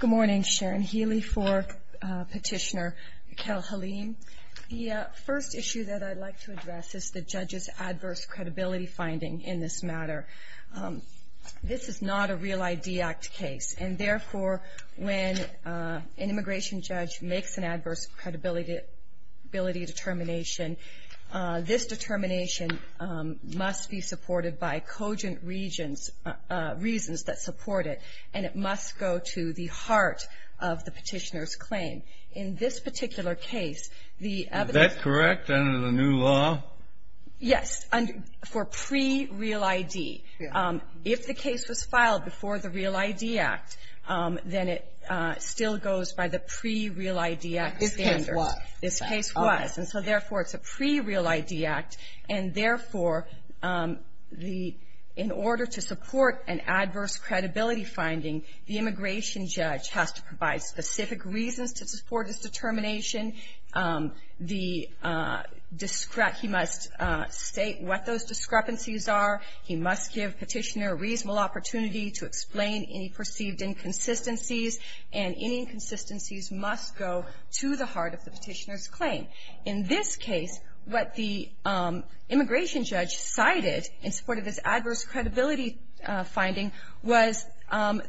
Good morning, Sharon Healy for Petitioner Kel Halim. The first issue that I'd like to address is the judge's adverse credibility finding in this matter. This is not a Real ID Act case, and therefore, when an immigration judge makes an adverse credibility determination, this determination must be supported by cogent reasons that support it, and it must go to the heart of the petitioner's claim. In this particular case, the evidence… Is that correct under the new law? Yes, for pre-Real ID. If the case was filed before the Real ID Act, then it still goes by the pre-Real ID Act standards. This case was. And so therefore, it's a pre-Real ID Act, and therefore, in order to support an adverse credibility finding, the immigration judge has to provide specific reasons to support his determination. He must state what those discrepancies are. He must give petitioner a reasonable opportunity to explain any perceived inconsistencies, and any inconsistencies must go to the heart of the petitioner's claim. In this case, what the immigration judge cited in support of his adverse credibility finding was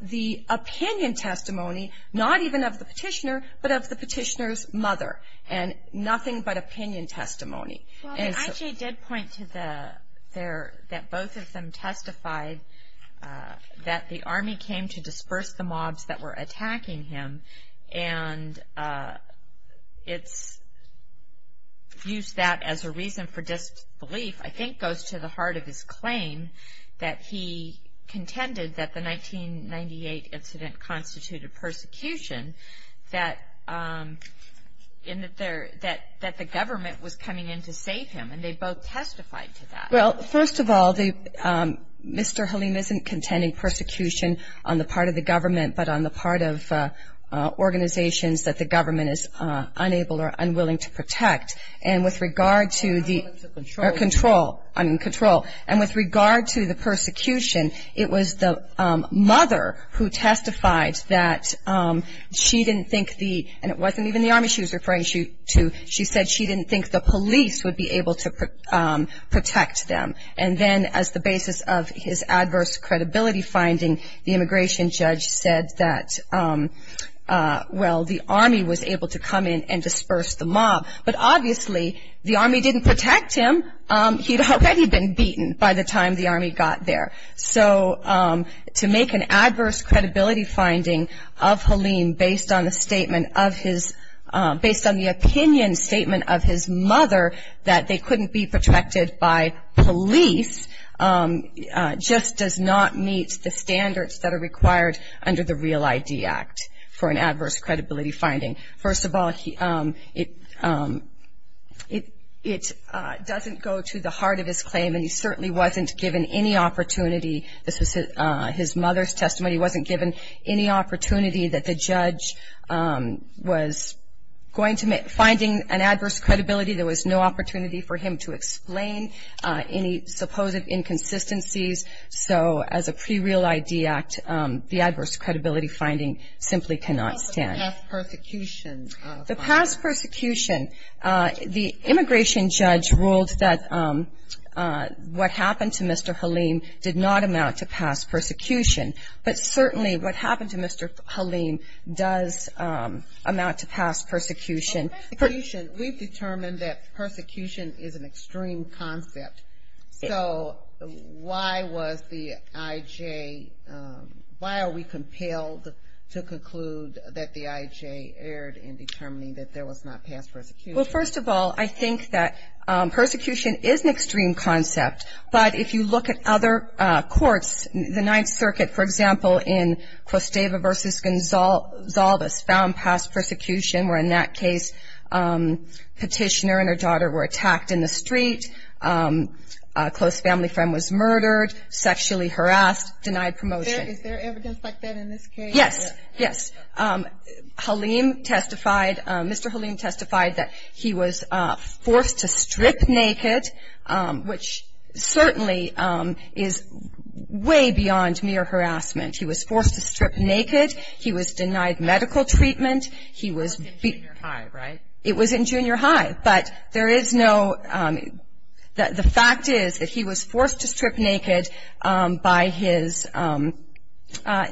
the opinion testimony, not even of the petitioner, but of the petitioner's mother, and nothing but opinion testimony. Well, the IJ did point to that both of them testified that the Army came to disperse the mobs that were attacking him, and it's used that as a reason for disbelief, I think goes to the heart of his claim that he contended that the 1998 incident constituted persecution, that the government was coming in to save him, and they both testified to that. Well, first of all, Mr. Halim isn't contending persecution on the part of the government, but on the part of organizations that the government is unable or unwilling to protect. And with regard to the control, I mean control, and with regard to the persecution, it was the mother who testified that she didn't think the, and it wasn't even the Army she was referring to, she said she didn't think the police would be able to protect them. And then as the basis of his adverse credibility finding, the immigration judge said that, well, the Army was able to come in and disperse the mob, but obviously the Army didn't protect him. He'd already been beaten by the time the Army got there. So to make an adverse credibility finding of Halim based on the statement of his, based on the opinion statement of his mother that they couldn't be protected by police just does not meet the standards that are required under the Real ID Act for an adverse credibility finding. First of all, it doesn't go to the heart of his claim, and he certainly wasn't given any opportunity. This was his mother's testimony. He wasn't given any opportunity that the judge was going to, finding an adverse credibility. There was no opportunity for him to explain any supposed inconsistencies. So as a pre-Real ID Act, the adverse credibility finding simply cannot stand. What about the past persecution? The past persecution, the immigration judge ruled that what happened to Mr. Halim did not amount to past persecution. But certainly what happened to Mr. Halim does amount to past persecution. Well, persecution, we've determined that persecution is an extreme concept. So why was the IJ, why are we compelled to conclude that the IJ erred in determining that there was not past persecution? Well, first of all, I think that persecution is an extreme concept. But if you look at other courts, the Ninth Circuit, for example, in Costeva v. Gonzalez found past persecution, where in that case petitioner and her daughter were attacked in the street, a close family friend was murdered, sexually harassed, denied promotion. Is there evidence like that in this case? Yes, yes. Halim testified, Mr. Halim testified that he was forced to strip naked, which certainly is way beyond mere harassment. He was forced to strip naked. He was denied medical treatment. It was in junior high, right? It was in junior high. But there is no, the fact is that he was forced to strip naked by his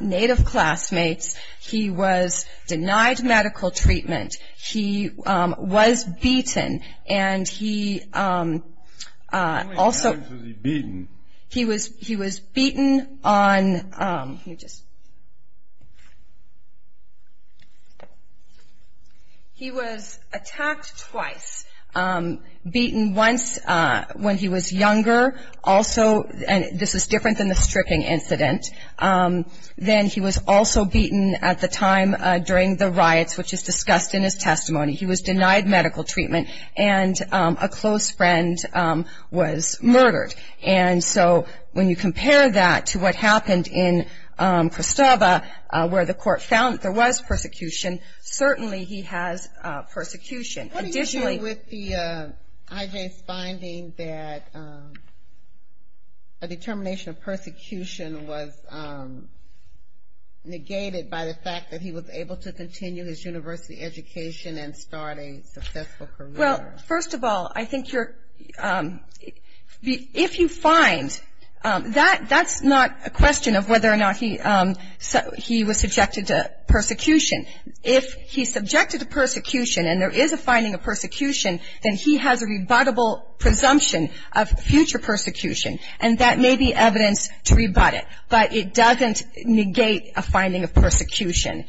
native classmates. He was denied medical treatment. He was beaten. How many times was he beaten? He was beaten on, let me just, he was attacked twice. Beaten once when he was younger, also, and this is different than the stripping incident. Then he was also beaten at the time during the riots, which is discussed in his testimony. He was denied medical treatment, and a close friend was murdered. And so when you compare that to what happened in Christova, where the court found that there was persecution, certainly he has persecution. What do you do with the IJ's finding that a determination of persecution was negated by the fact that he was able to continue his university education and start a successful career? Well, first of all, I think you're, if you find, that's not a question of whether or not he was subjected to persecution. If he's subjected to persecution and there is a finding of persecution, then he has a rebuttable presumption of future persecution, and that may be evidence to rebut it. But it doesn't negate a finding of persecution.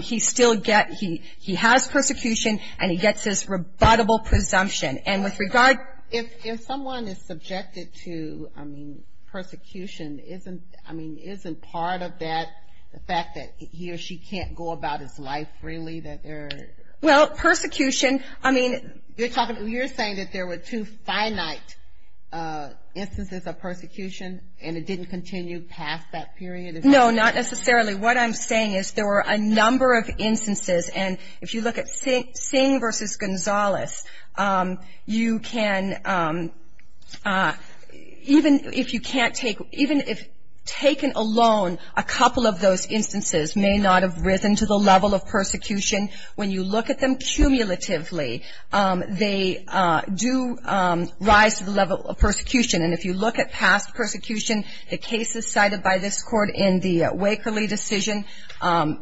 He still gets, he has persecution, and he gets his rebuttable presumption. And with regard. If someone is subjected to, I mean, persecution, isn't, I mean, isn't part of that the fact that he or she can't go about his life freely, that there. Well, persecution, I mean. You're talking, you're saying that there were two finite instances of persecution, and it didn't continue past that period? No, not necessarily. What I'm saying is there were a number of instances, and if you look at Singh versus Gonzalez, you can, even if you can't take, even if taken alone, a couple of those instances may not have risen to the level of persecution. When you look at them cumulatively, they do rise to the level of persecution. And if you look at past persecution, the cases cited by this Court in the Wakerley decision,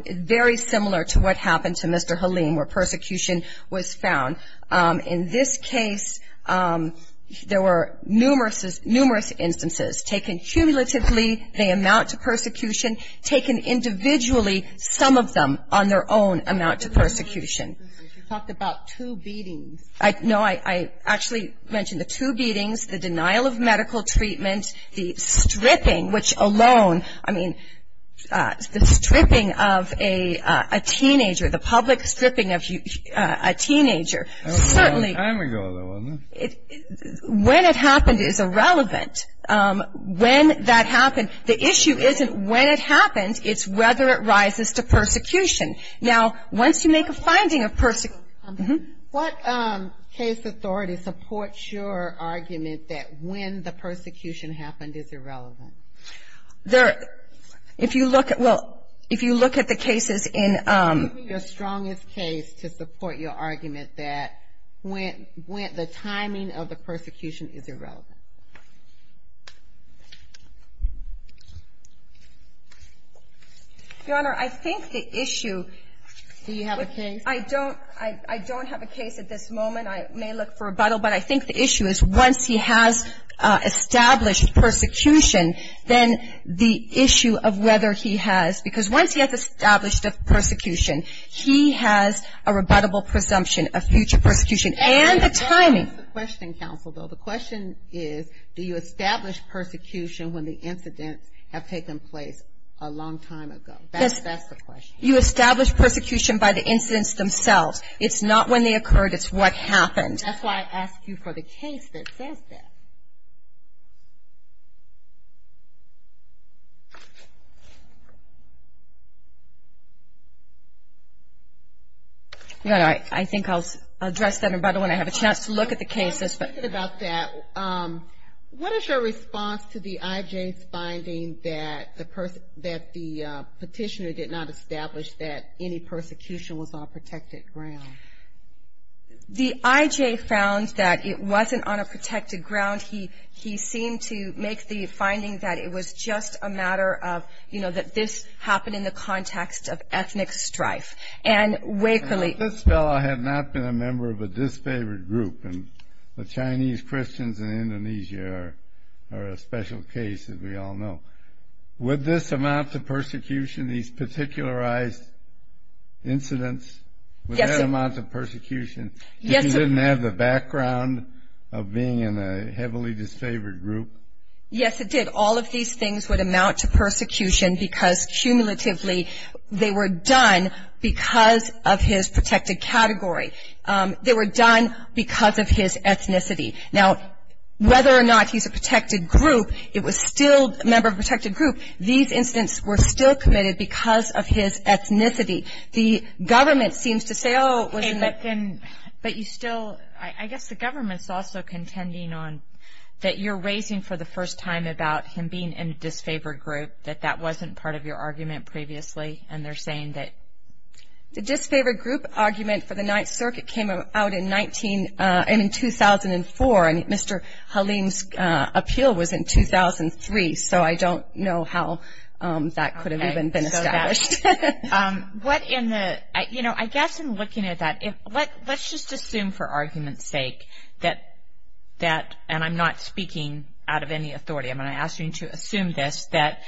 very similar to what happened to Mr. Halim, where persecution was found. In this case, there were numerous instances. Taken cumulatively, they amount to persecution. Taken individually, some of them on their own amount to persecution. You talked about two beatings. No, I actually mentioned the two beatings. The denial of medical treatment, the stripping, which alone, I mean, the stripping of a teenager, the public stripping of a teenager, certainly. That was a long time ago, though, wasn't it? When it happened is irrelevant. When that happened, the issue isn't when it happened, it's whether it rises to persecution. Now, once you make a finding of persecution. What case authority supports your argument that when the persecution happened is irrelevant? There, if you look at, well, if you look at the cases in. Give me your strongest case to support your argument that when, the timing of the persecution is irrelevant. Your Honor, I think the issue. Do you have a case? I don't. I don't have a case at this moment. I may look for rebuttal, but I think the issue is once he has established persecution, then the issue of whether he has, because once he has established a persecution, he has a rebuttable presumption of future persecution and the timing. That's the question, counsel, though. The question is, do you establish persecution when the incidents have taken place a long time ago? That's the question. You establish persecution by the incidents themselves. It's not when they occurred, it's what happened. That's why I asked you for the case that says that. I think I'll address that, and by the way, I have a chance to look at the cases. I'm thinking about that. What is your response to the I.J.'s finding that the petitioner did not establish that any persecution was on protected ground? The I.J. found that it wasn't on a protected ground. He seemed to make the finding that it was just a matter of, you know, that this happened in the context of ethnic strife. This fellow had not been a member of a disfavored group, and the Chinese Christians in Indonesia are a special case, as we all know. Would this amount to persecution, these particularized incidents? Yes. Would that amount to persecution? Yes. If he didn't have the background of being in a heavily disfavored group? Yes, it did. All of these things would amount to persecution because, cumulatively, they were done because of his protected category. They were done because of his ethnicity. Now, whether or not he's a protected group, it was still a member of a protected group, these incidents were still committed because of his ethnicity. The government seems to say, oh, it wasn't that. But you still, I guess the government's also contending on that you're raising, for the first time, about him being in a disfavored group, that that wasn't part of your argument previously, and they're saying that... The disfavored group argument for the Ninth Circuit came out in 2004, and Mr. Halim's appeal was in 2003, so I don't know how that could have even been established. What in the, you know, I guess in looking at that, let's just assume for argument's sake that, and I'm not speaking out of any authority, I'm going to ask you to assume this, that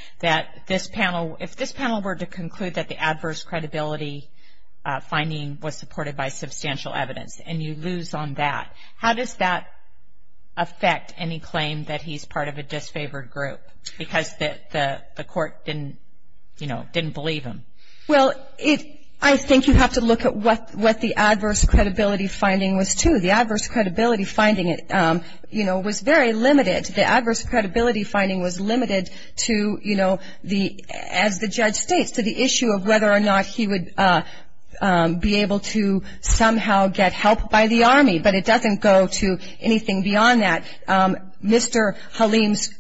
this panel, if this panel were to conclude that the adverse credibility finding was supported by substantial evidence and you lose on that, how does that affect any claim that he's part of a disfavored group because the court didn't, you know, didn't believe him? Well, I think you have to look at what the adverse credibility finding was too. The adverse credibility finding, you know, was very limited. The adverse credibility finding was limited to, you know, as the judge states, to the issue of whether or not he would be able to somehow get help by the Army, but it doesn't go to anything beyond that. Mr. Halim's,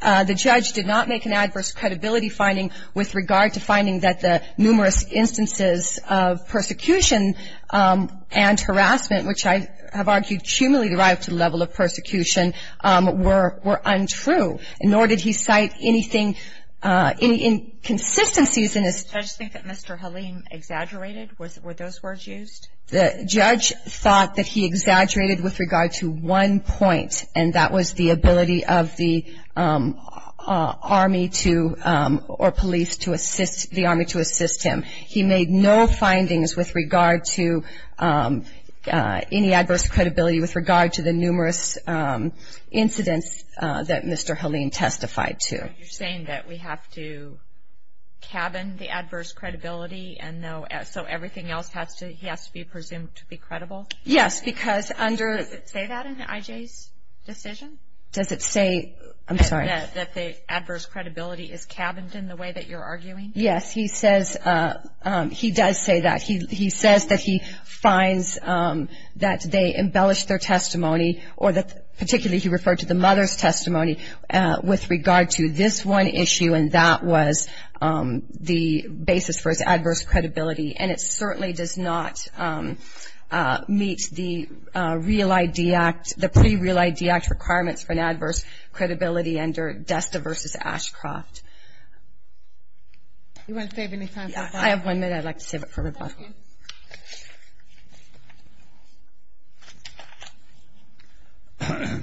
the judge did not make an adverse credibility finding with regard to finding that the numerous instances of persecution and harassment, which I have argued cumulatively derived from the level of persecution, were untrue, nor did he cite anything, any inconsistencies in his. Did the judge think that Mr. Halim exaggerated? Were those words used? The judge thought that he exaggerated with regard to one point, and that was the ability of the Army to, or police to assist, the Army to assist him. He made no findings with regard to any adverse credibility with regard to the numerous incidents that Mr. Halim testified to. You're saying that we have to cabin the adverse credibility, and so everything else has to, he has to be presumed to be credible? Yes, because under. Does it say that in I.J.'s decision? Does it say, I'm sorry. That the adverse credibility is cabined in the way that you're arguing? Yes, he says, he does say that. He says that he finds that they embellished their testimony, or that particularly he referred to the mother's testimony with regard to this one issue, and that was the basis for his adverse credibility, and it certainly does not meet the Real ID Act, the pre-Real ID Act requirements for an adverse credibility under Desta v. Ashcroft. Do you want to save any time for rebuttal? I have one minute. I'd like to save it for rebuttal. Thank you.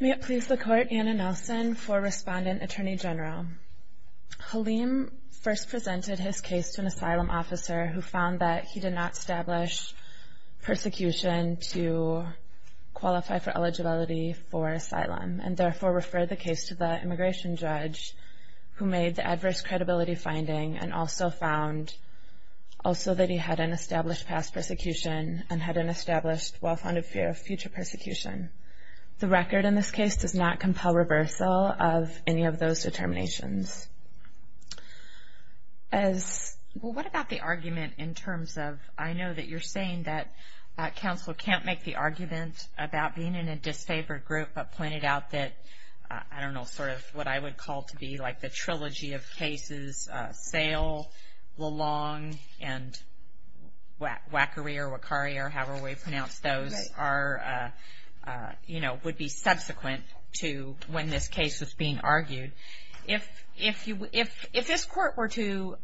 May it please the Court, Anna Nelson for Respondent Attorney General. Halim first presented his case to an asylum officer who found that he did not establish persecution to qualify for eligibility for asylum, and therefore referred the case to the immigration judge who made the adverse credibility finding and also found also that he hadn't established past persecution and hadn't established well-founded fear of future persecution. The record in this case does not compel reversal of any of those determinations. Well, what about the argument in terms of, I know that you're saying that counsel can't make the argument about being in a disfavored group, but pointed out that, I don't know, sort of what I would call to be like the trilogy of cases, Sale, Lalong, and Wackery or Wakari or however we pronounce those, would be subsequent to when this case was being argued. If this Court were to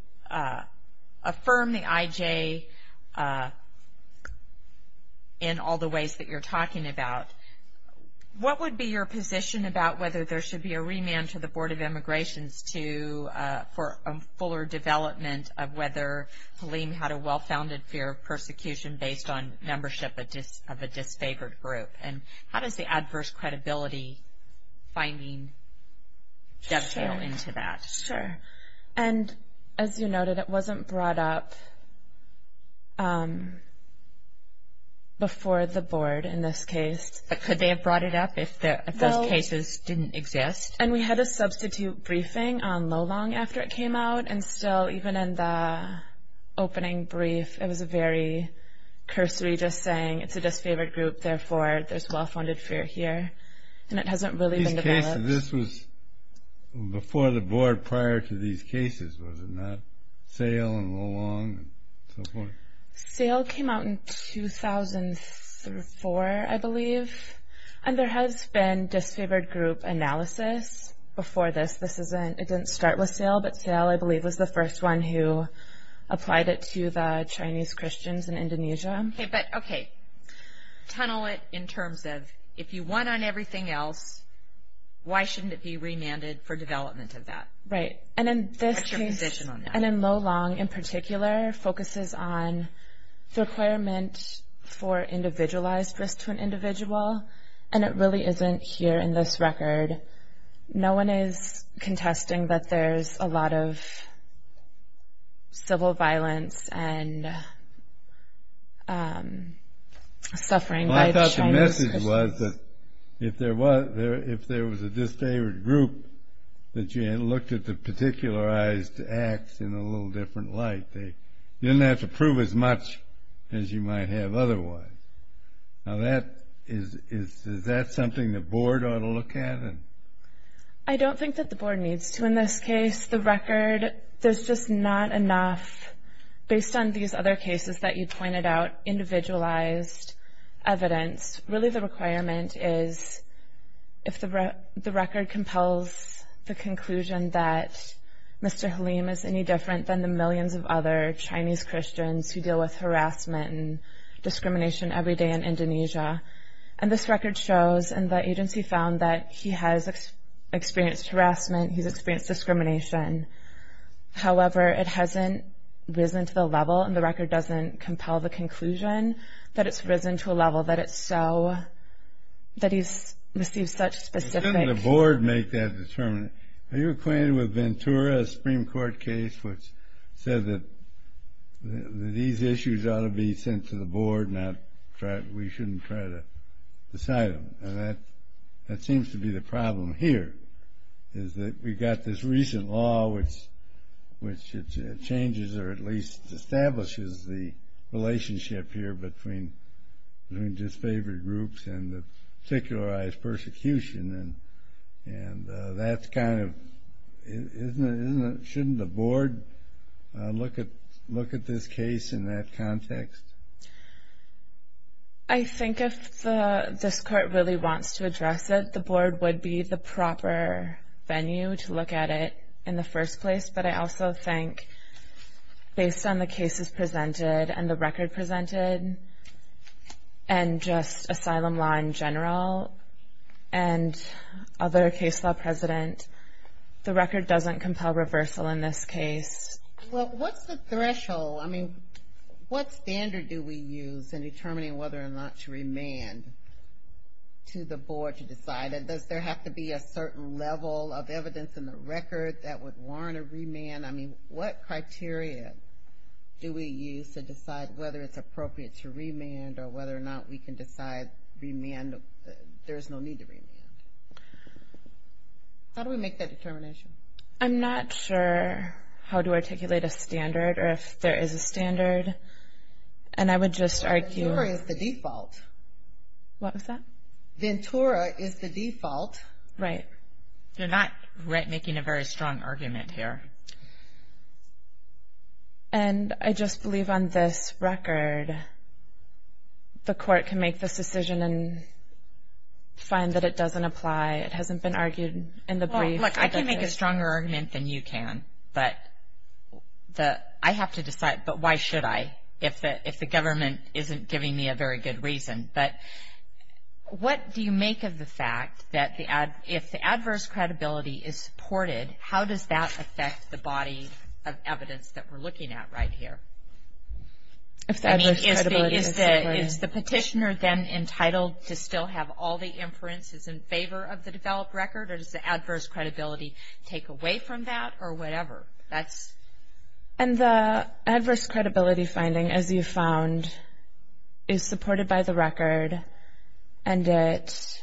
affirm the IJ in all the ways that you're talking about, what would be your position about whether there should be a remand to the Board of Immigrations for a fuller development of whether Haleem had a well-founded fear of persecution based on membership of a disfavored group? And how does the adverse credibility finding dovetail into that? Sure. And as you noted, it wasn't brought up before the Board in this case. But could they have brought it up if those cases didn't exist? And we had a substitute briefing on Lalong after it came out, and still, even in the opening brief, it was a very cursory just saying it's a disfavored group, therefore there's well-founded fear here. And it hasn't really been developed. This was before the Board prior to these cases, was it not? Sale and Lalong and so forth. Sale came out in 2004, I believe. And there has been disfavored group analysis before this. It didn't start with Sale, but Sale, I believe, was the first one who applied it to the Chinese Christians in Indonesia. Okay. Tunnel it in terms of if you won on everything else, why shouldn't it be remanded for development of that? Right. What's your position on that? And in Lalong, in particular, focuses on the requirement for individualized risk to an individual, and it really isn't here in this record. No one is contesting that there's a lot of civil violence and suffering by the Chinese Christians. If there was a disfavored group that you had looked at the particularized acts in a little different light, you didn't have to prove as much as you might have otherwise. Now, is that something the Board ought to look at? I don't think that the Board needs to in this case. The record, there's just not enough, based on these other cases that you pointed out, individualized evidence. Really, the requirement is if the record compels the conclusion that Mr. Halim is any different than the millions of other Chinese Christians who deal with harassment and discrimination every day in Indonesia, and this record shows and the agency found that he has experienced harassment, he's experienced discrimination. However, it hasn't risen to the level and the record doesn't compel the conclusion that it's risen to a level that it's so, that he's received such specific... Shouldn't the Board make that determination? Are you acquainted with Ventura, a Supreme Court case which said that these issues ought to be sent to the Board, and we shouldn't try to decide them? And that seems to be the problem here, is that we've got this recent law which changes or at least establishes the relationship here between disfavored groups and the particularized persecution, and that's kind of... Shouldn't the Board look at this case in that context? I think if this Court really wants to address it, the Board would be the proper venue to look at it in the first place, but I also think based on the cases presented and the record presented and just asylum law in general and other case law precedent, the record doesn't compel reversal in this case. Well, what's the threshold? I mean, what standard do we use in determining whether or not to remand to the Board to decide? Does there have to be a certain level of evidence in the record that would warrant a remand? I mean, what criteria do we use to decide whether it's appropriate to remand or whether or not we can decide there's no need to remand? How do we make that determination? I'm not sure how to articulate a standard or if there is a standard, and I would just argue... Ventura is the default. What was that? Ventura is the default. Right. You're not making a very strong argument here. And I just believe on this record the Court can make this decision and find that it doesn't apply. It hasn't been argued in the brief. Look, I can make a stronger argument than you can, but I have to decide, but why should I, if the government isn't giving me a very good reason? But what do you make of the fact that if the adverse credibility is supported, how does that affect the body of evidence that we're looking at right here? I mean, is the petitioner then entitled to still have all the inferences in favor of the developed record, or does the adverse credibility take away from that or whatever? And the adverse credibility finding, as you found, is supported by the record, and it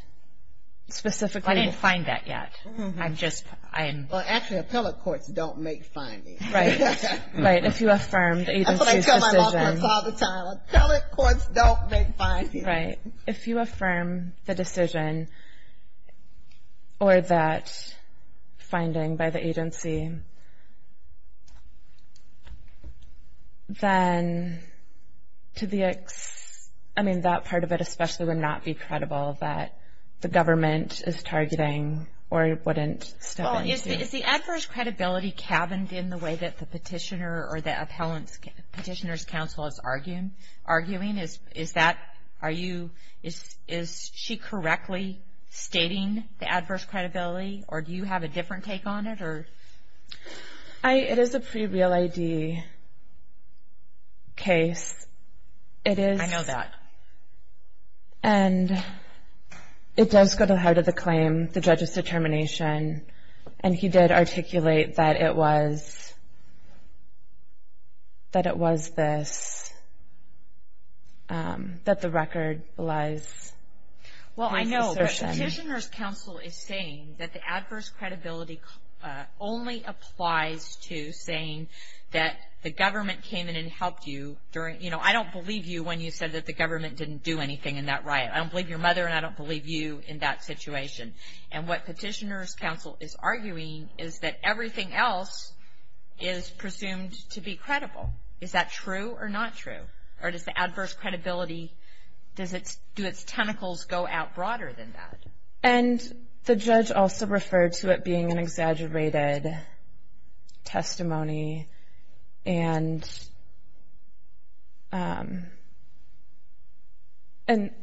specifically... I didn't find that yet. Well, actually, appellate courts don't make findings. Right. If you affirm the agency's decision... That's what I tell my law clerks all the time. Appellate courts don't make findings. Right. If you affirm the decision or that finding by the agency, then to the... I mean, that part of it especially would not be credible, that the government is targeting or wouldn't step in to... Well, is the adverse credibility cabined in the way that the petitioner or the appellant's petitioner's counsel is arguing? Is that... Are you... Is she correctly stating the adverse credibility, or do you have a different take on it? It is a pre-real ID case. I know that. And it does go to heart of the claim, the judge's determination, and he did articulate that it was this, that the record was this assertion. Well, I know, but petitioner's counsel is saying that the adverse credibility only applies to saying that the government came in and helped you during... You know, I don't believe you when you said that the government didn't do anything in that riot. I don't believe your mother, and I don't believe you in that situation. And what petitioner's counsel is arguing is that everything else is presumed to be credible. Is that true or not true? Or does the adverse credibility, do its tentacles go out broader than that? And the judge also referred to it being an exaggerated testimony and,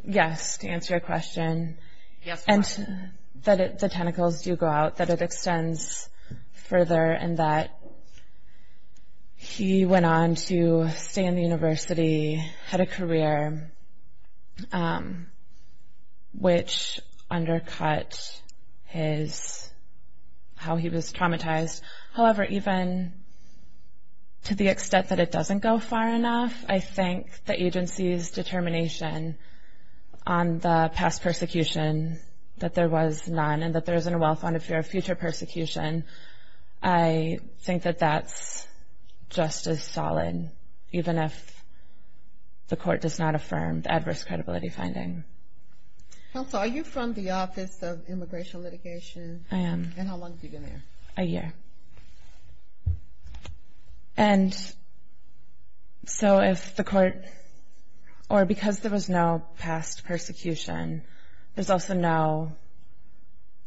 yes, to answer your question. Yes, ma'am. And that the tentacles do go out, that it extends further, and that he went on to stay in the university, had a career, which undercut his, how he was traumatized. However, even to the extent that it doesn't go far enough, I think the agency's determination on the past persecution that there was none and that there isn't a well-founded fear of future persecution, I think that that's just as solid, even if the court does not affirm the adverse credibility finding. Counsel, are you from the Office of Immigration Litigation? I am. And how long have you been there? A year. And so if the court, or because there was no past persecution, there's also no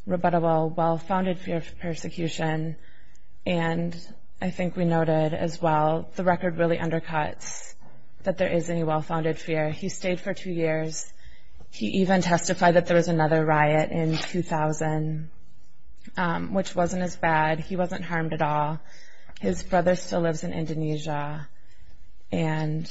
rebuttable well-founded fear of persecution. And I think we noted as well, the record really undercuts that there is any well-founded fear. He stayed for two years. He even testified that there was another riot in 2000, which wasn't as bad. He wasn't harmed at all. His brother still lives in Indonesia. And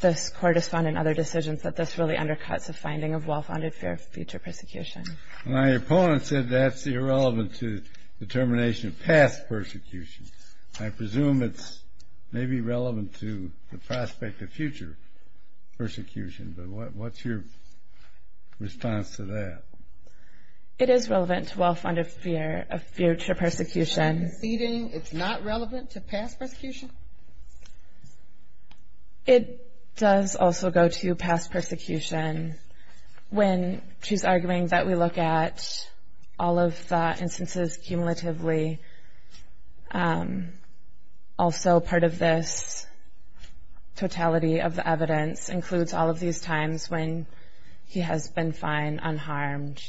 this court has found in other decisions that this really undercuts a finding of well-founded fear of future persecution. My opponent said that's irrelevant to determination of past persecution. I presume it's maybe relevant to the prospect of future persecution. But what's your response to that? It is relevant to well-founded fear of future persecution. It's not relevant to past persecution? It does also go to past persecution. When she's arguing that we look at all of the instances cumulatively, also part of this totality of the evidence includes all of these times when he has been fine, unharmed.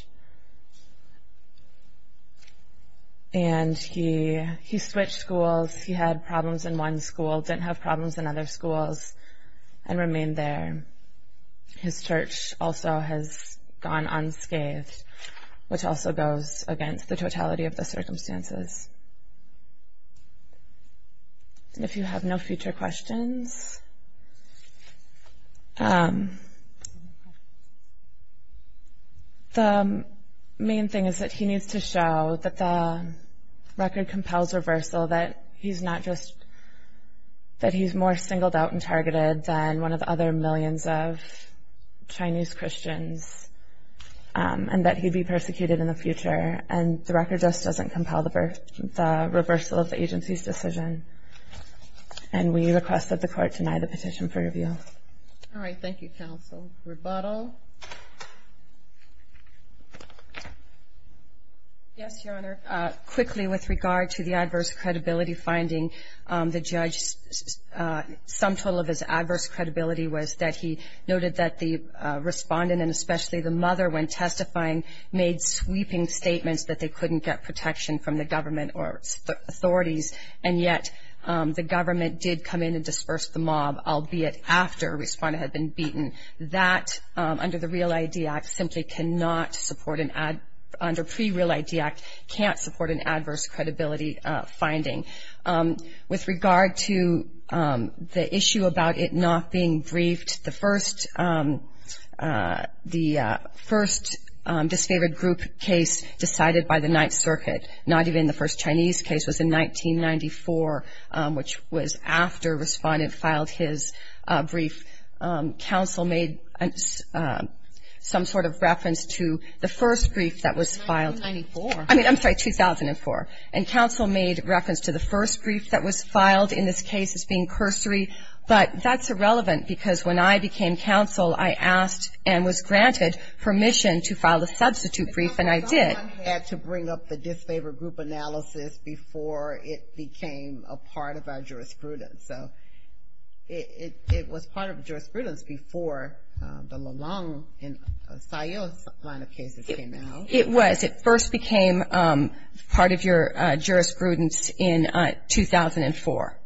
And he switched schools. He had problems in one school, didn't have problems in other schools, and remained there. His church also has gone unscathed, which also goes against the totality of the circumstances. If you have no future questions, the main thing is that he needs to show that the record compels reversal, that he's more singled out and targeted than one of the other millions of Chinese Christians, and that he'd be persecuted in the future. And the record just doesn't compel the reversal of the agency's decision. And we request that the court deny the petition for review. All right. Thank you, counsel. Rebuttal? Yes, Your Honor. Quickly, with regard to the adverse credibility finding, the judge's sum total of his adverse credibility was that he noted that the respondent and especially the mother, when testifying, made sweeping statements that they couldn't get protection from the government or authorities, and yet the government did come in and disperse the mob, albeit after a respondent had been beaten. That, under the Real ID Act, simply cannot support an adverse credibility finding. With regard to the issue about it not being briefed, the first disfavored group case decided by the Ninth Circuit, not even the first Chinese case, was in 1994, which was after a respondent filed his brief. Counsel made some sort of reference to the first brief that was filed. 1994. I mean, I'm sorry, 2004. And counsel made reference to the first brief that was filed in this case as being cursory, but that's irrelevant because when I became counsel, I asked and was granted permission to file the substitute brief, and I did. Someone had to bring up the disfavored group analysis before it became a part of our jurisprudence. So it was part of the jurisprudence before the Long and Sayul's line of cases came out. It was. It first became part of your jurisprudence in 2004.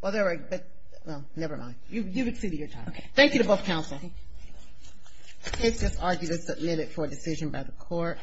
Well, never mind. You've exceeded your time. Okay. Thank you to both counsel. The case is argued as a limit for a decision by the court.